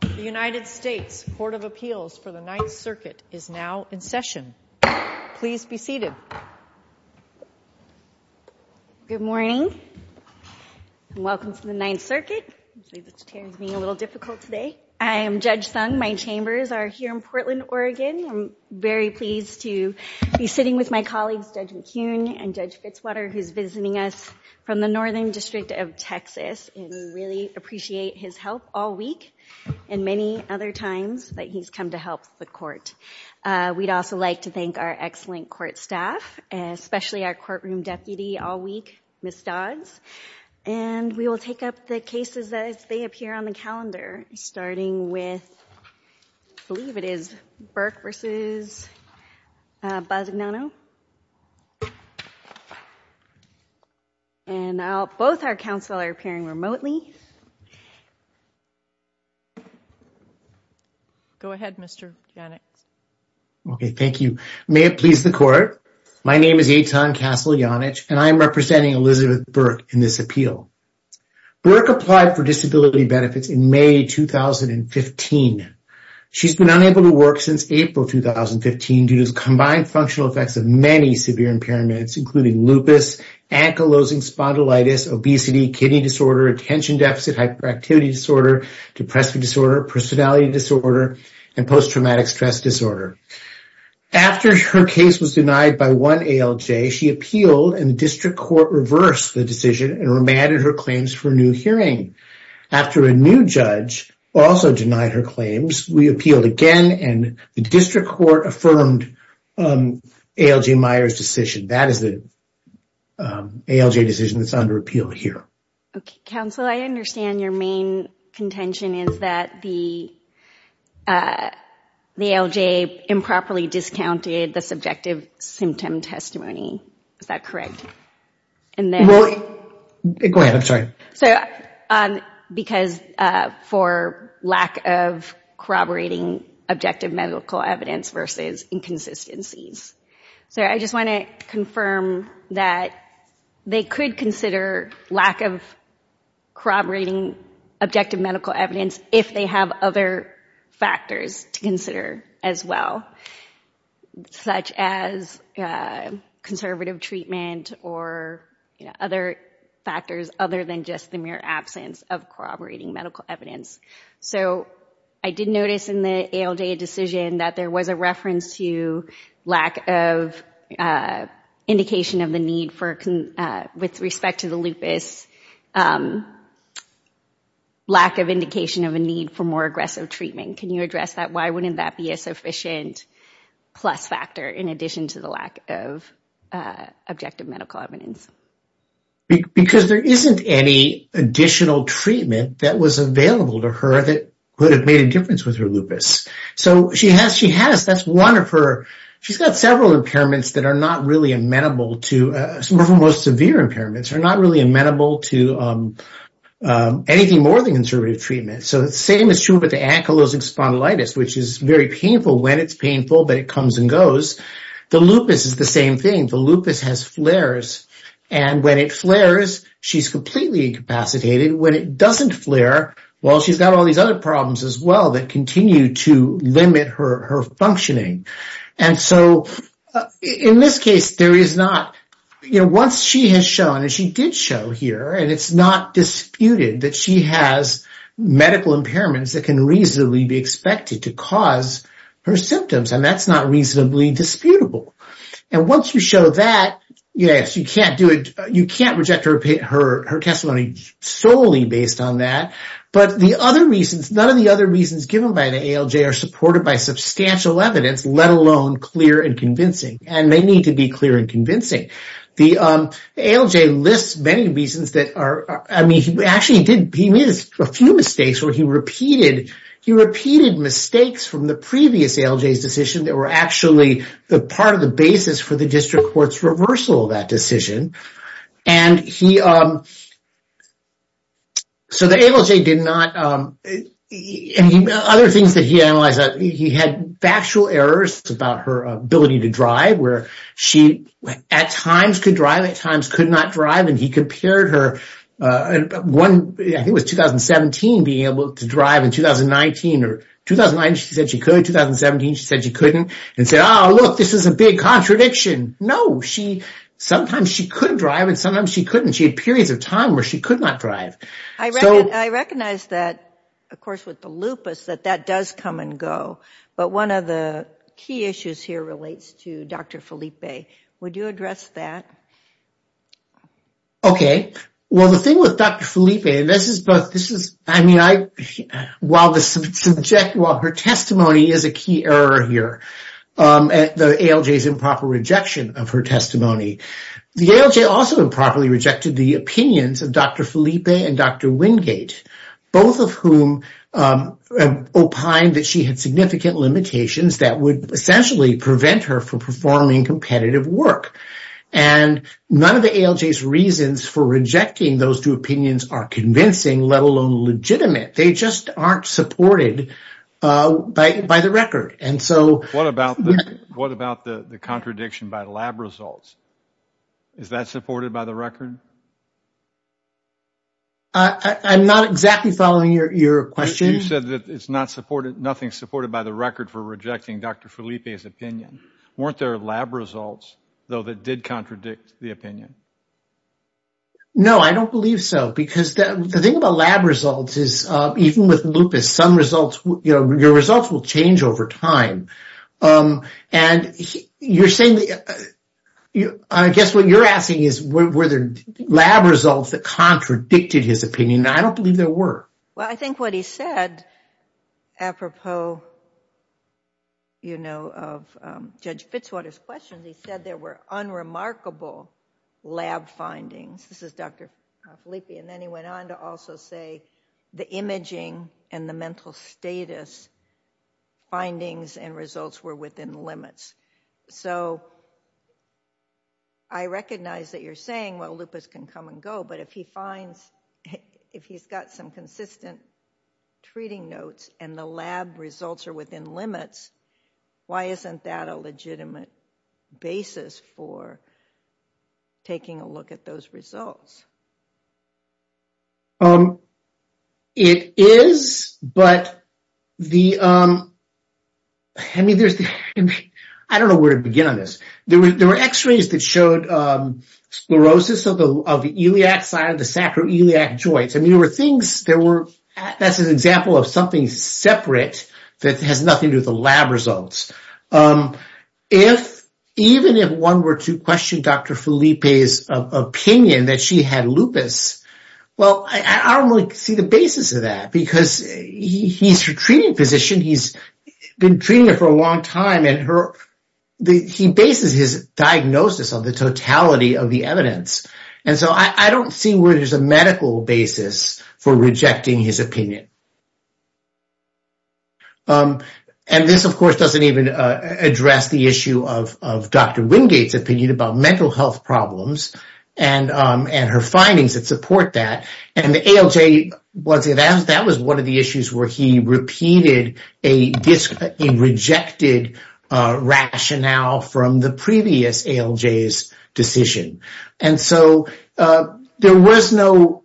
The United States Court of Appeals for the Ninth Circuit is now in session. Please be seated. Good morning and welcome to the Ninth Circuit. I'm sure this chair is being a little difficult today. I am Judge Sung. My chambers are here in Portland, Oregon. I'm very pleased to be sitting with my colleagues Judge McKeown and Judge Fitzwater who's visiting us from the Northern District of Texas and we really appreciate his help all week and many other times that he's come to help the court. We'd also like to thank our excellent court staff, especially our courtroom deputy all week, Ms. Dodds, and we will take up the cases as they appear on the calendar starting with, I believe it is, Burke v. Bisignano and now both our counsel are appearing remotely. Go ahead, Mr. Janich. Okay, thank you. May it please the court, my name is Eitan Castle-Janich and I am representing Elizabeth Burke in this appeal. Burke applied for disability benefits in May 2015. She's been unable to work since April 2015 due to combined functional effects of many severe impairments including lupus, ankylosing spondylitis, obesity, kidney disorder, attention deficit hyperactivity disorder, depressive disorder, personality disorder, and post-traumatic stress disorder. After her case was denied by one ALJ, she appealed and the district court reversed the decision and remanded her claims for a new hearing. After a new judge also denied her claims, we appealed again and the district court affirmed ALJ Meyers' decision. That is the ALJ decision that's under appeal here. Okay, counsel, I understand your main contention is that the ALJ improperly discounted the subjective symptom testimony, is that correct? Go ahead, I'm sorry. So because for lack of corroborating objective medical evidence versus inconsistencies. So I just want to confirm that they could consider lack of corroborating objective medical evidence if they have other factors to consider as well, such as conservative treatment or other factors other than just the mere absence of corroborating medical evidence. So I did notice in the ALJ decision that there was a reference to lack of indication of the need for, with respect to the lupus, lack of indication of a need for more aggressive treatment. Can you address that? Why wouldn't that be a sufficient plus factor in addition to the lack of objective medical evidence? Because there isn't any additional treatment that was available to her that would have made a difference with her lupus. So she has, she has, that's one of her, she's got several impairments that are not really amenable to, some of the most severe impairments are not really amenable to anything more than conservative treatment. So the same is true with the ankylosing spondylitis, which is very painful when it's painful, but it comes and goes. The lupus is the same thing. The lupus has flares and when it flares, she's completely incapacitated. When it doesn't flare, well, she's got all these other problems as well that continue to limit her functioning. And so in this case, there is not, you know, once she has shown, and she did show here, and it's not disputed that she has medical impairments that can reasonably be expected to cause her symptoms, and that's not reasonably disputable. And her testimony solely based on that. But the other reasons, none of the other reasons given by the ALJ are supported by substantial evidence, let alone clear and convincing. And they need to be clear and convincing. The ALJ lists many reasons that are, I mean, he actually did, he made a few mistakes where he repeated, he repeated mistakes from the previous ALJ's decision that were actually the part of the basis for the district court's reversal of that decision. And he, so the ALJ did not, and other things that he analyzed, he had factual errors about her ability to drive, where she at times could drive, at times could not drive, and he compared her, one, I think it was 2017, being able to drive in 2019, or 2009 she said she could, 2017 she said she couldn't, and said, oh, look, this is a big contradiction. No, she, sometimes she could drive, and sometimes she couldn't. She had periods of time where she could not drive. I recognize that, of course, with the lupus, that that does come and go, but one of the key issues here relates to Dr. Felipe. Would you address that? Okay, well, the thing with Dr. Felipe, this is, I mean, I, while the subject, well, her testimony is a key error here, the ALJ's improper rejection of her testimony. The ALJ also improperly rejected the opinions of Dr. Felipe and Dr. Wingate, both of whom opined that she had significant limitations that would essentially prevent her from performing competitive work, and none of the ALJ's reasons for rejecting those two opinions are convincing, let alone legitimate. They just aren't supported by the record, and so... What about the contradiction by lab results? Is that supported by the record? I'm not exactly following your question. You said that it's not supported, nothing supported by the record for rejecting Dr. Felipe's opinion. Weren't there lab results, though, that did contradict the opinion? No, I don't believe so, because the thing about lab results is, even with lupus, some results, you know, your results will change over time, and you're saying, I guess what you're asking is, were there lab results that contradicted his opinion? I don't believe there were. Well, I think what he said, apropos, you know, of Judge Fitzwater's questions, he said there were unremarkable lab findings. This is Dr. Felipe, and then he went on to also say the imaging and the mental status findings and results were within limits. So, I recognize that you're saying, well, lupus can come and go, but if he finds, if he's got some consistent treating notes and the lab results are within limits, why isn't that a legitimate basis for taking a look at those results? It is, but the, I mean, there's, I don't know where to begin on this. There were x-rays that showed sclerosis of the iliac side of the sacroiliac joints. I mean, there were things, there were, that's an example of something separate that has nothing to do with the lab results. If, even if one were to question Dr. Felipe's opinion that she had lupus, well, I don't really see the basis of that because he's her treating physician, he's been treating her for a long time, and he bases his diagnosis on the totality of the evidence. And so, I don't see where there's a medical basis for rejecting his opinion. And this, of course, would address the issue of Dr. Wingate's opinion about mental health problems and her findings that support that. And ALJ, that was one of the issues where he repeated a rejected rationale from the previous ALJ's decision. And so, there was no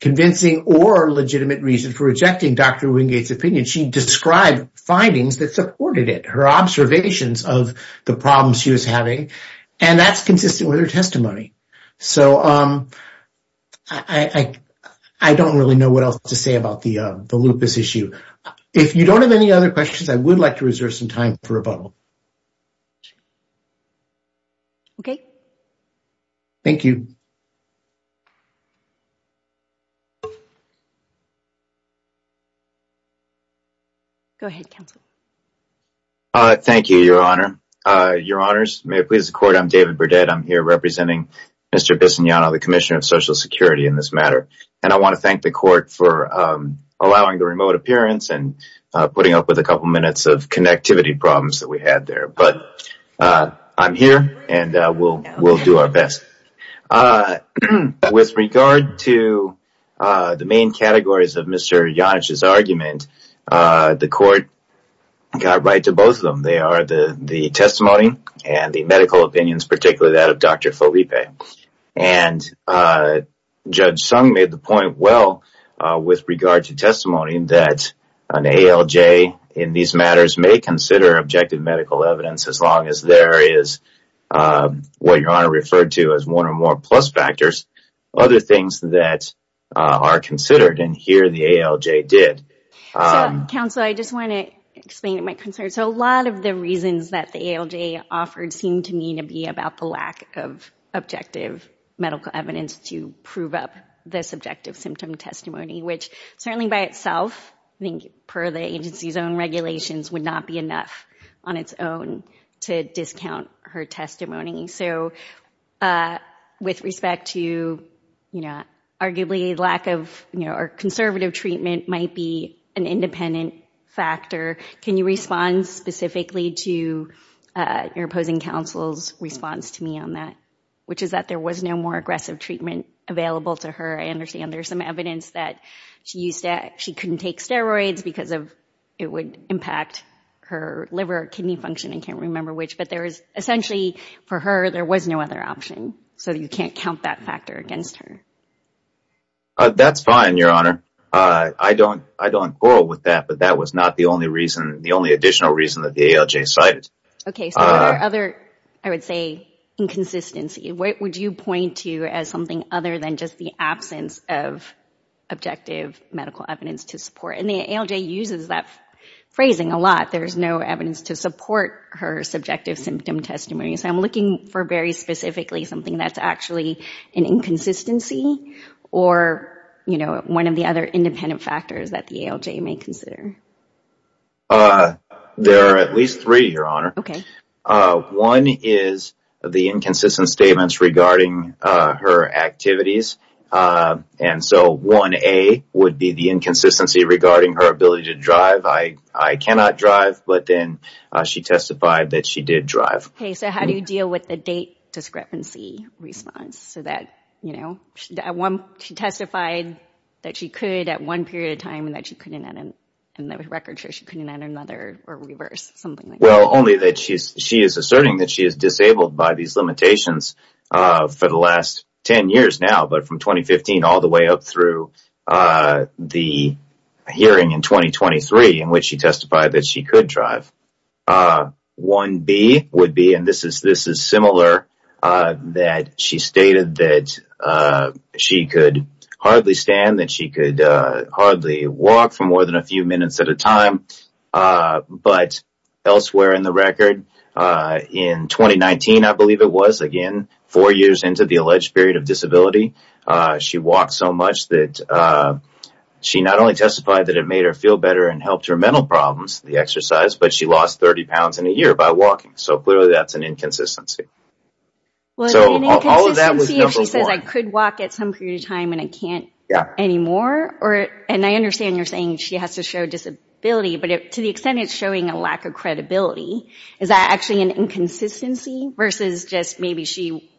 convincing or legitimate reason for rejecting Dr. Wingate's opinion. She described findings that supported it, her observations of the problems she was having, and that's consistent with her testimony. So, I don't really know what else to say about the lupus issue. If you don't have any other questions, I would like to reserve some time for rebuttal. Okay. Thank you. Go ahead, counsel. Thank you, Your Honor. Your Honors, may it please the court, I'm David Burdett. I'm here representing Mr. Bisognano, the Commissioner of Social Security in this matter. And I want to thank the court for allowing the remote appearance and putting up with a couple minutes of connectivity problems that we had there. But I'm here and we'll do our best. With regard to the main categories of Mr. Yonash's argument, the court got right to both of them. They are the testimony and the medical opinions, particularly that of Dr. Felipe. And Judge Sung made the point well with regard to testimony that an ALJ in these matters may consider objective medical evidence as long as there is what Your Honor referred to as one or more plus factors. Other things that are considered and here the ALJ did. Counsel, I just want to explain my concern. So a lot of the reasons that the ALJ offered seemed to me to be about the lack of objective medical evidence to prove up the subjective symptom testimony, which certainly by itself, I think per the agency's own regulations, would not be enough on its own to discount her testimony. So with respect to, you know, arguably lack of, you know, or conservative treatment might be an independent factor. Can you respond specifically to your opposing counsel's response to me on that? Which is that there was no more aggressive treatment available to her. I understand there's some evidence that she used to, she couldn't take steroids because of it would impact her liver, kidney function, and can't remember which. But there is essentially for her there was no other so you can't count that factor against her. That's fine, Your Honor. I don't quarrel with that, but that was not the only reason, the only additional reason that the ALJ cited. Okay, so there are other, I would say, inconsistencies. What would you point to as something other than just the absence of objective medical evidence to support? And the ALJ uses that phrasing a lot. There's no evidence to support her subjective symptom testimony. So I'm looking for very specifically something that's actually an inconsistency or, you know, one of the other independent factors that the ALJ may consider. There are at least three, Your Honor. Okay. One is the inconsistent statements regarding her activities. And so 1A would be the inconsistency regarding her ability to drive. I cannot drive, but then she testified that she did drive. Okay, so how do you deal with the date discrepancy response? So that, you know, she testified that she could at one period of time and that she couldn't at another, and the record shows she couldn't at another or reverse, something like that. Well, only that she is asserting that she is disabled by these limitations for the last 10 years now, but from 2015 all the way up through the hearing in 2023 in which she testified that she could drive. 1B would be, and this is this is similar, that she stated that she could hardly stand, that she could hardly walk for more than a few minutes at a time. But elsewhere in the record, in 2019 I believe it was, again, four years into the alleged period of disability, she walked so much that she not only testified that it made her feel better and helped her mental problems, the exercise, but she lost 30 pounds in a year by walking. So clearly that's an inconsistency. So all of that was number one. Well, is it an inconsistency if she says I could walk at some period of time and I can't anymore, and I understand you're saying she has to show disability, but to the extent it's showing a lack of credibility, is that actually an inconsistency versus just maybe she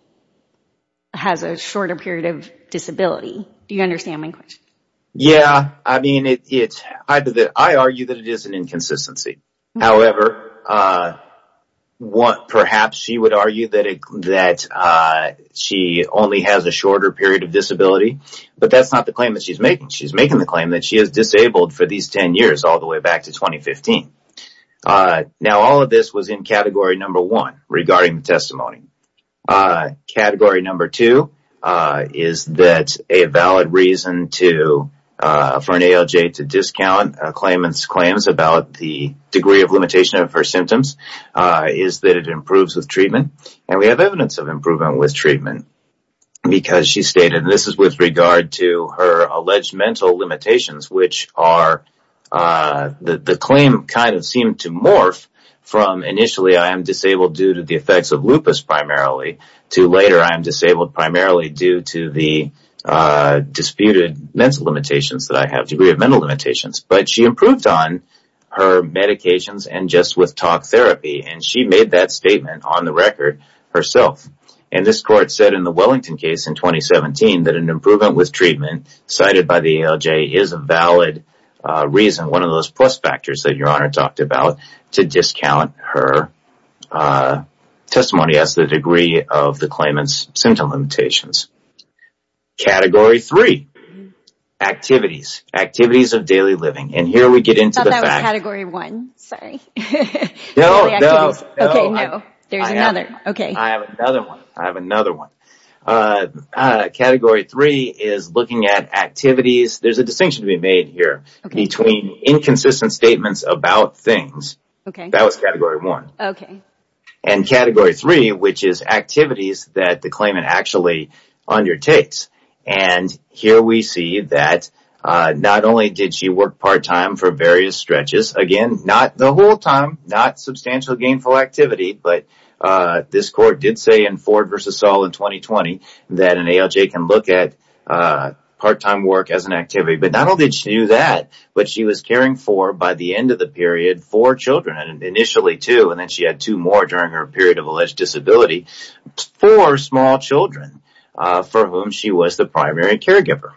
has a shorter period of disability? Do you understand my question? Yeah, I mean, I argue that it is an inconsistency. However, perhaps she would argue that she only has a shorter period of disability, but that's not the claim that she's making. She's making the claim that she is disabled for these 10 years all the way back to 2015. Now, all of this was in category number one regarding the testimony. Category number two is that a valid reason for an ALJ to discount a claimant's claims about the degree of limitation of her symptoms is that it improves with treatment, and we have evidence of improvement with treatment because she stated this is with regard to her alleged mental limitations, which are that the claim kind of seemed to morph from initially I am disabled due to the effects of lupus primarily, to later I am disabled primarily due to the disputed mental limitations that I have, degree of mental limitations, but she improved on her medications and just with talk therapy, and she made that statement on the record herself, and this court said in the Wellington case in 2017 that an improvement with treatment cited by the ALJ is a valid reason, one of those plus factors that Your Honor talked about, to discount her testimony as the degree of the claimant's symptom limitations. Category three, activities. Activities of daily living, and here we get into the fact... I thought that was category one. Sorry. No, no. Okay, no. There's another. Okay. I have another one. I have another one. Category three is looking at activities. There's a distinction to be made here between inconsistent statements about things. Okay. That was category one. Okay. And category three, which is activities that the claimant actually undertakes, and here we see that not only did she work part-time for various stretches, again, not the whole time, not substantial gainful activity, but this court did say in Ford versus Saul in that an ALJ can look at part-time work as an activity, but not only did she do that, but she was caring for, by the end of the period, four children, and initially two, and then she had two more during her period of alleged disability. Four small children for whom she was the primary caregiver,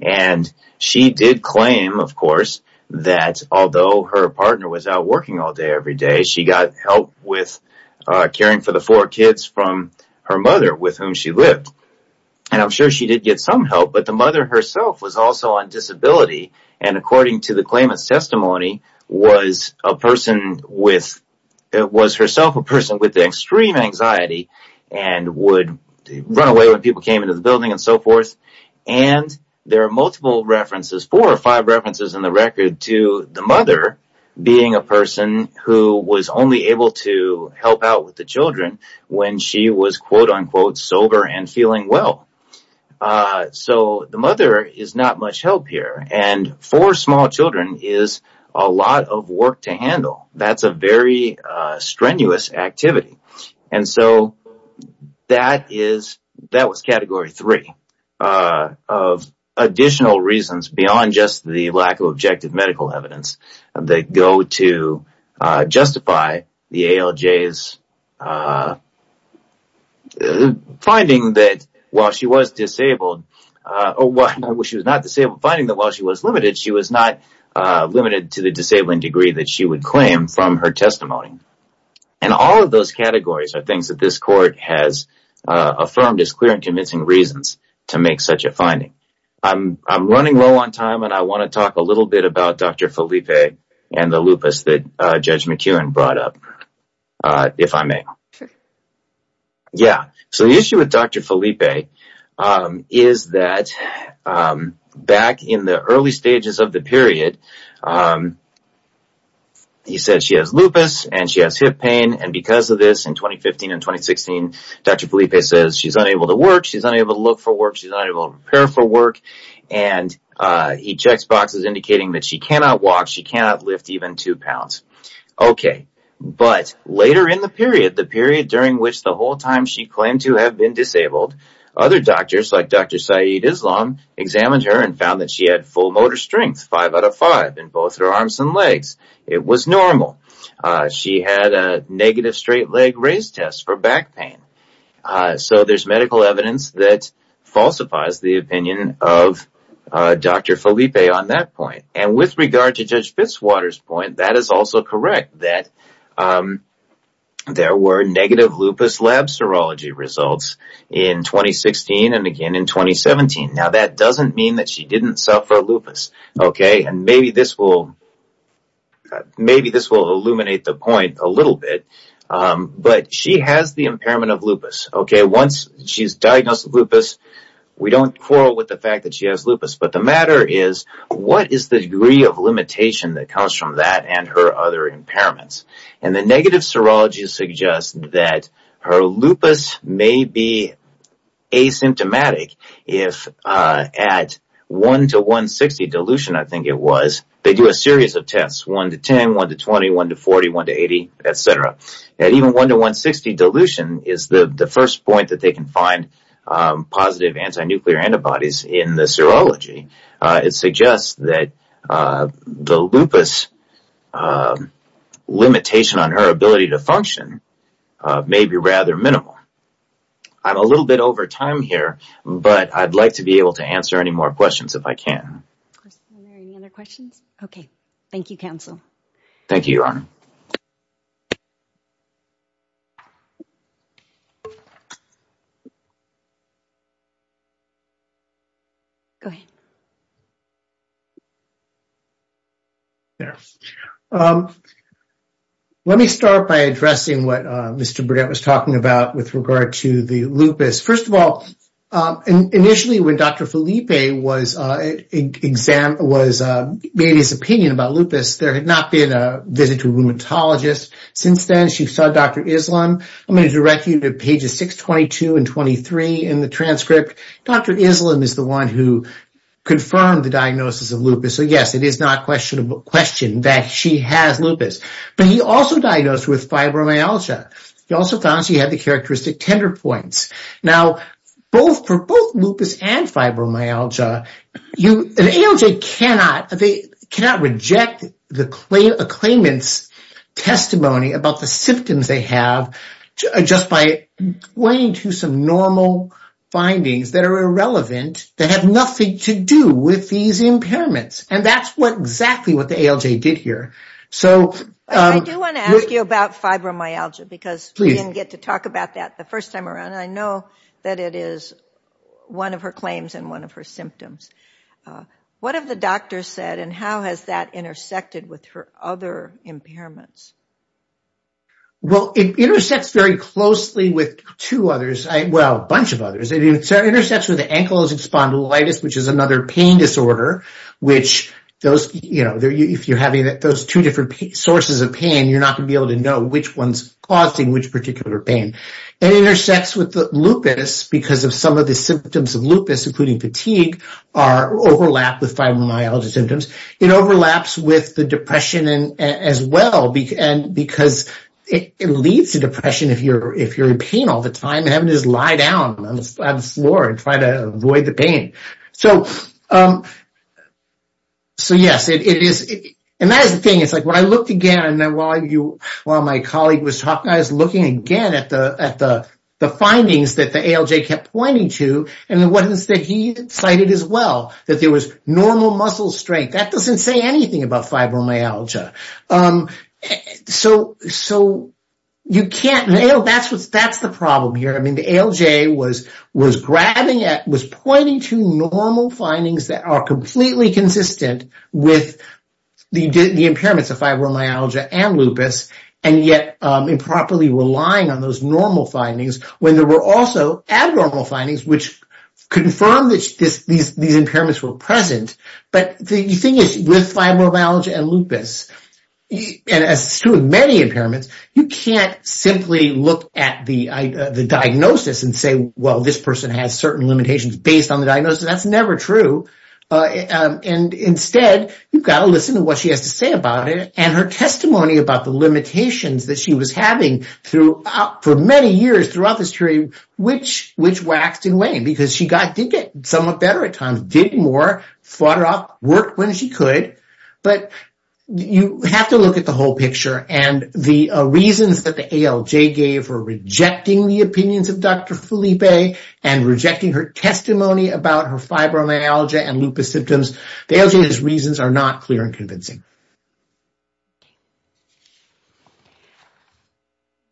and she did claim, of course, that although her partner was out working all day every day, she got help with caring for the four kids from her mother with whom she lived, and I'm sure she did get some help, but the mother herself was also on disability, and according to the claimant's testimony, was a person with, was herself a person with extreme anxiety and would run away when people came into the building and so forth, and there are multiple references, four or five references in the record to the mother being a person who was only able to help out with the children when she was, quote-unquote, sober and feeling well, so the mother is not much help here, and four small children is a lot of work to handle. That's a very strenuous activity, and so that is, that was Category 3 of additional reasons beyond just the lack of objective medical evidence that go to justify the ALJ's finding that while she was disabled, well, she was not disabled, finding that while she was limited, she was not limited to the disabling degree that she would claim from her testimony, and all of those categories are things that this court has affirmed as clear and convincing reasons to make such a finding. I'm running low on time, and I want to talk a little bit about Dr. Felipe and the lupus that Judge McEwen brought up, if I may. Yeah, so the issue with Dr. Felipe is that back in the early stages of the period, he said she has lupus and she has hip pain, and because of this, in 2015 and 2016, Dr. Felipe says she's unable to work, she's unable to look for work, she's unable to prepare for work, and he checks boxes indicating that she cannot walk, she cannot lift even two pounds. Okay, but later in the period, the period during which the whole time she claimed to have been disabled, other doctors like Dr. Saeed Islam examined her and found that she had full motor strength, five out of five, in both her arms and legs. It was normal. She had a negative straight leg raise test for back pain. So there's medical evidence that falsifies the opinion of Dr. Felipe on that point, and with regard to Judge Fitzwater's point, that is also correct, that there were negative lupus lab serology results in 2016 and again in 2017. Now, that doesn't mean that she didn't suffer lupus, okay, and maybe this will, maybe this will illuminate the point a little bit, but she has the impairment of lupus, okay. Once she's diagnosed with lupus, we don't quarrel with the fact that she has lupus, but the matter is, what is the degree of limitation that comes from that and her other impairments? And the negative serology suggests that her lupus may be asymptomatic if at 1 to 160 dilution, I was, they do a series of tests, 1 to 10, 1 to 20, 1 to 40, 1 to 80, etc. And even 1 to 160 dilution is the first point that they can find positive anti-nuclear antibodies in the serology. It suggests that the lupus limitation on her ability to function may be rather minimal. I'm a little bit over time here, but I'd like to be able to answer any more questions if I can. Okay, thank you, counsel. Thank you, Your Honor. Go ahead. Yeah, let me start by addressing what Mr. Burgette was talking about with regard to the lupus. First of all, initially when Dr. Felipe was examined, was made his opinion about lupus, there had not been a visit to a rheumatologist since then. She saw Dr. Islam. I'm going to direct you to pages 622 and 623 in the transcript. Dr. Islam is the one who confirmed the diagnosis of lupus, so yes, it is not questionable question that she has lupus. But he also diagnosed with fibromyalgia. He also found she had the characteristic tender points. Now, for both lupus and fibromyalgia, an ALJ cannot reject a claimant's testimony about the symptoms they have just by pointing to some normal findings that are irrelevant, that have nothing to do with these impairments. And that's exactly what the ALJ did here. I do want to ask you about fibromyalgia, because we didn't get to talk about that the first time around. I know that it is one of her claims and one of her symptoms. What have the doctor said, and how has that intersected with her other impairments? Well, it intersects very closely with two others, well, a bunch of others. It intersects with the ankylosing spondylitis, which is another pain disorder, which those, you know, if you're having those two different sources of pain, you're not going to be able to know which one's causing which particular pain. It intersects with the lupus, because of some of the symptoms of lupus, including fatigue, overlap with fibromyalgia symptoms. It overlaps with the depression as well, because it leads to depression if you're in pain all the time, having to just lie down on the floor and try to avoid the pain. So, yes, it is, and that is the thing. It's like, when I looked again, and then while you, while my colleague was talking, I was looking again at the findings that the ALJ kept pointing to, and what is that he cited as well, that there was normal muscle strength. That doesn't say anything about fibromyalgia. So, you can't, you know, that's the problem here. I mean, the ALJ was grabbing at, was pointing to normal findings that are completely consistent with the impairments of fibromyalgia and lupus, and yet improperly relying on those normal findings, when there were also abnormal findings, which confirmed that these impairments were present. But the thing is, with fibromyalgia and lupus, and as true of many impairments, you can't simply look at the diagnosis and say, well, this person has certain limitations based on the diagnosis. That's never true. And instead, you've got to listen to what she has to say about it, and her testimony about the limitations that she was having throughout, for many years throughout this period, which waxed and waned, because she got, did get somewhat better at times, did more, fought it off, worked when she could. But you have to look at the whole picture, and the reasons that the ALJ gave for rejecting the opinions of Dr. Felipe, and rejecting her testimony about her fibromyalgia and lupus symptoms, the ALJ's reasons are not clear and convincing.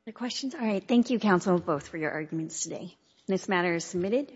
The questions? All right. Thank you, counsel, both for your arguments today. This matter is submitted.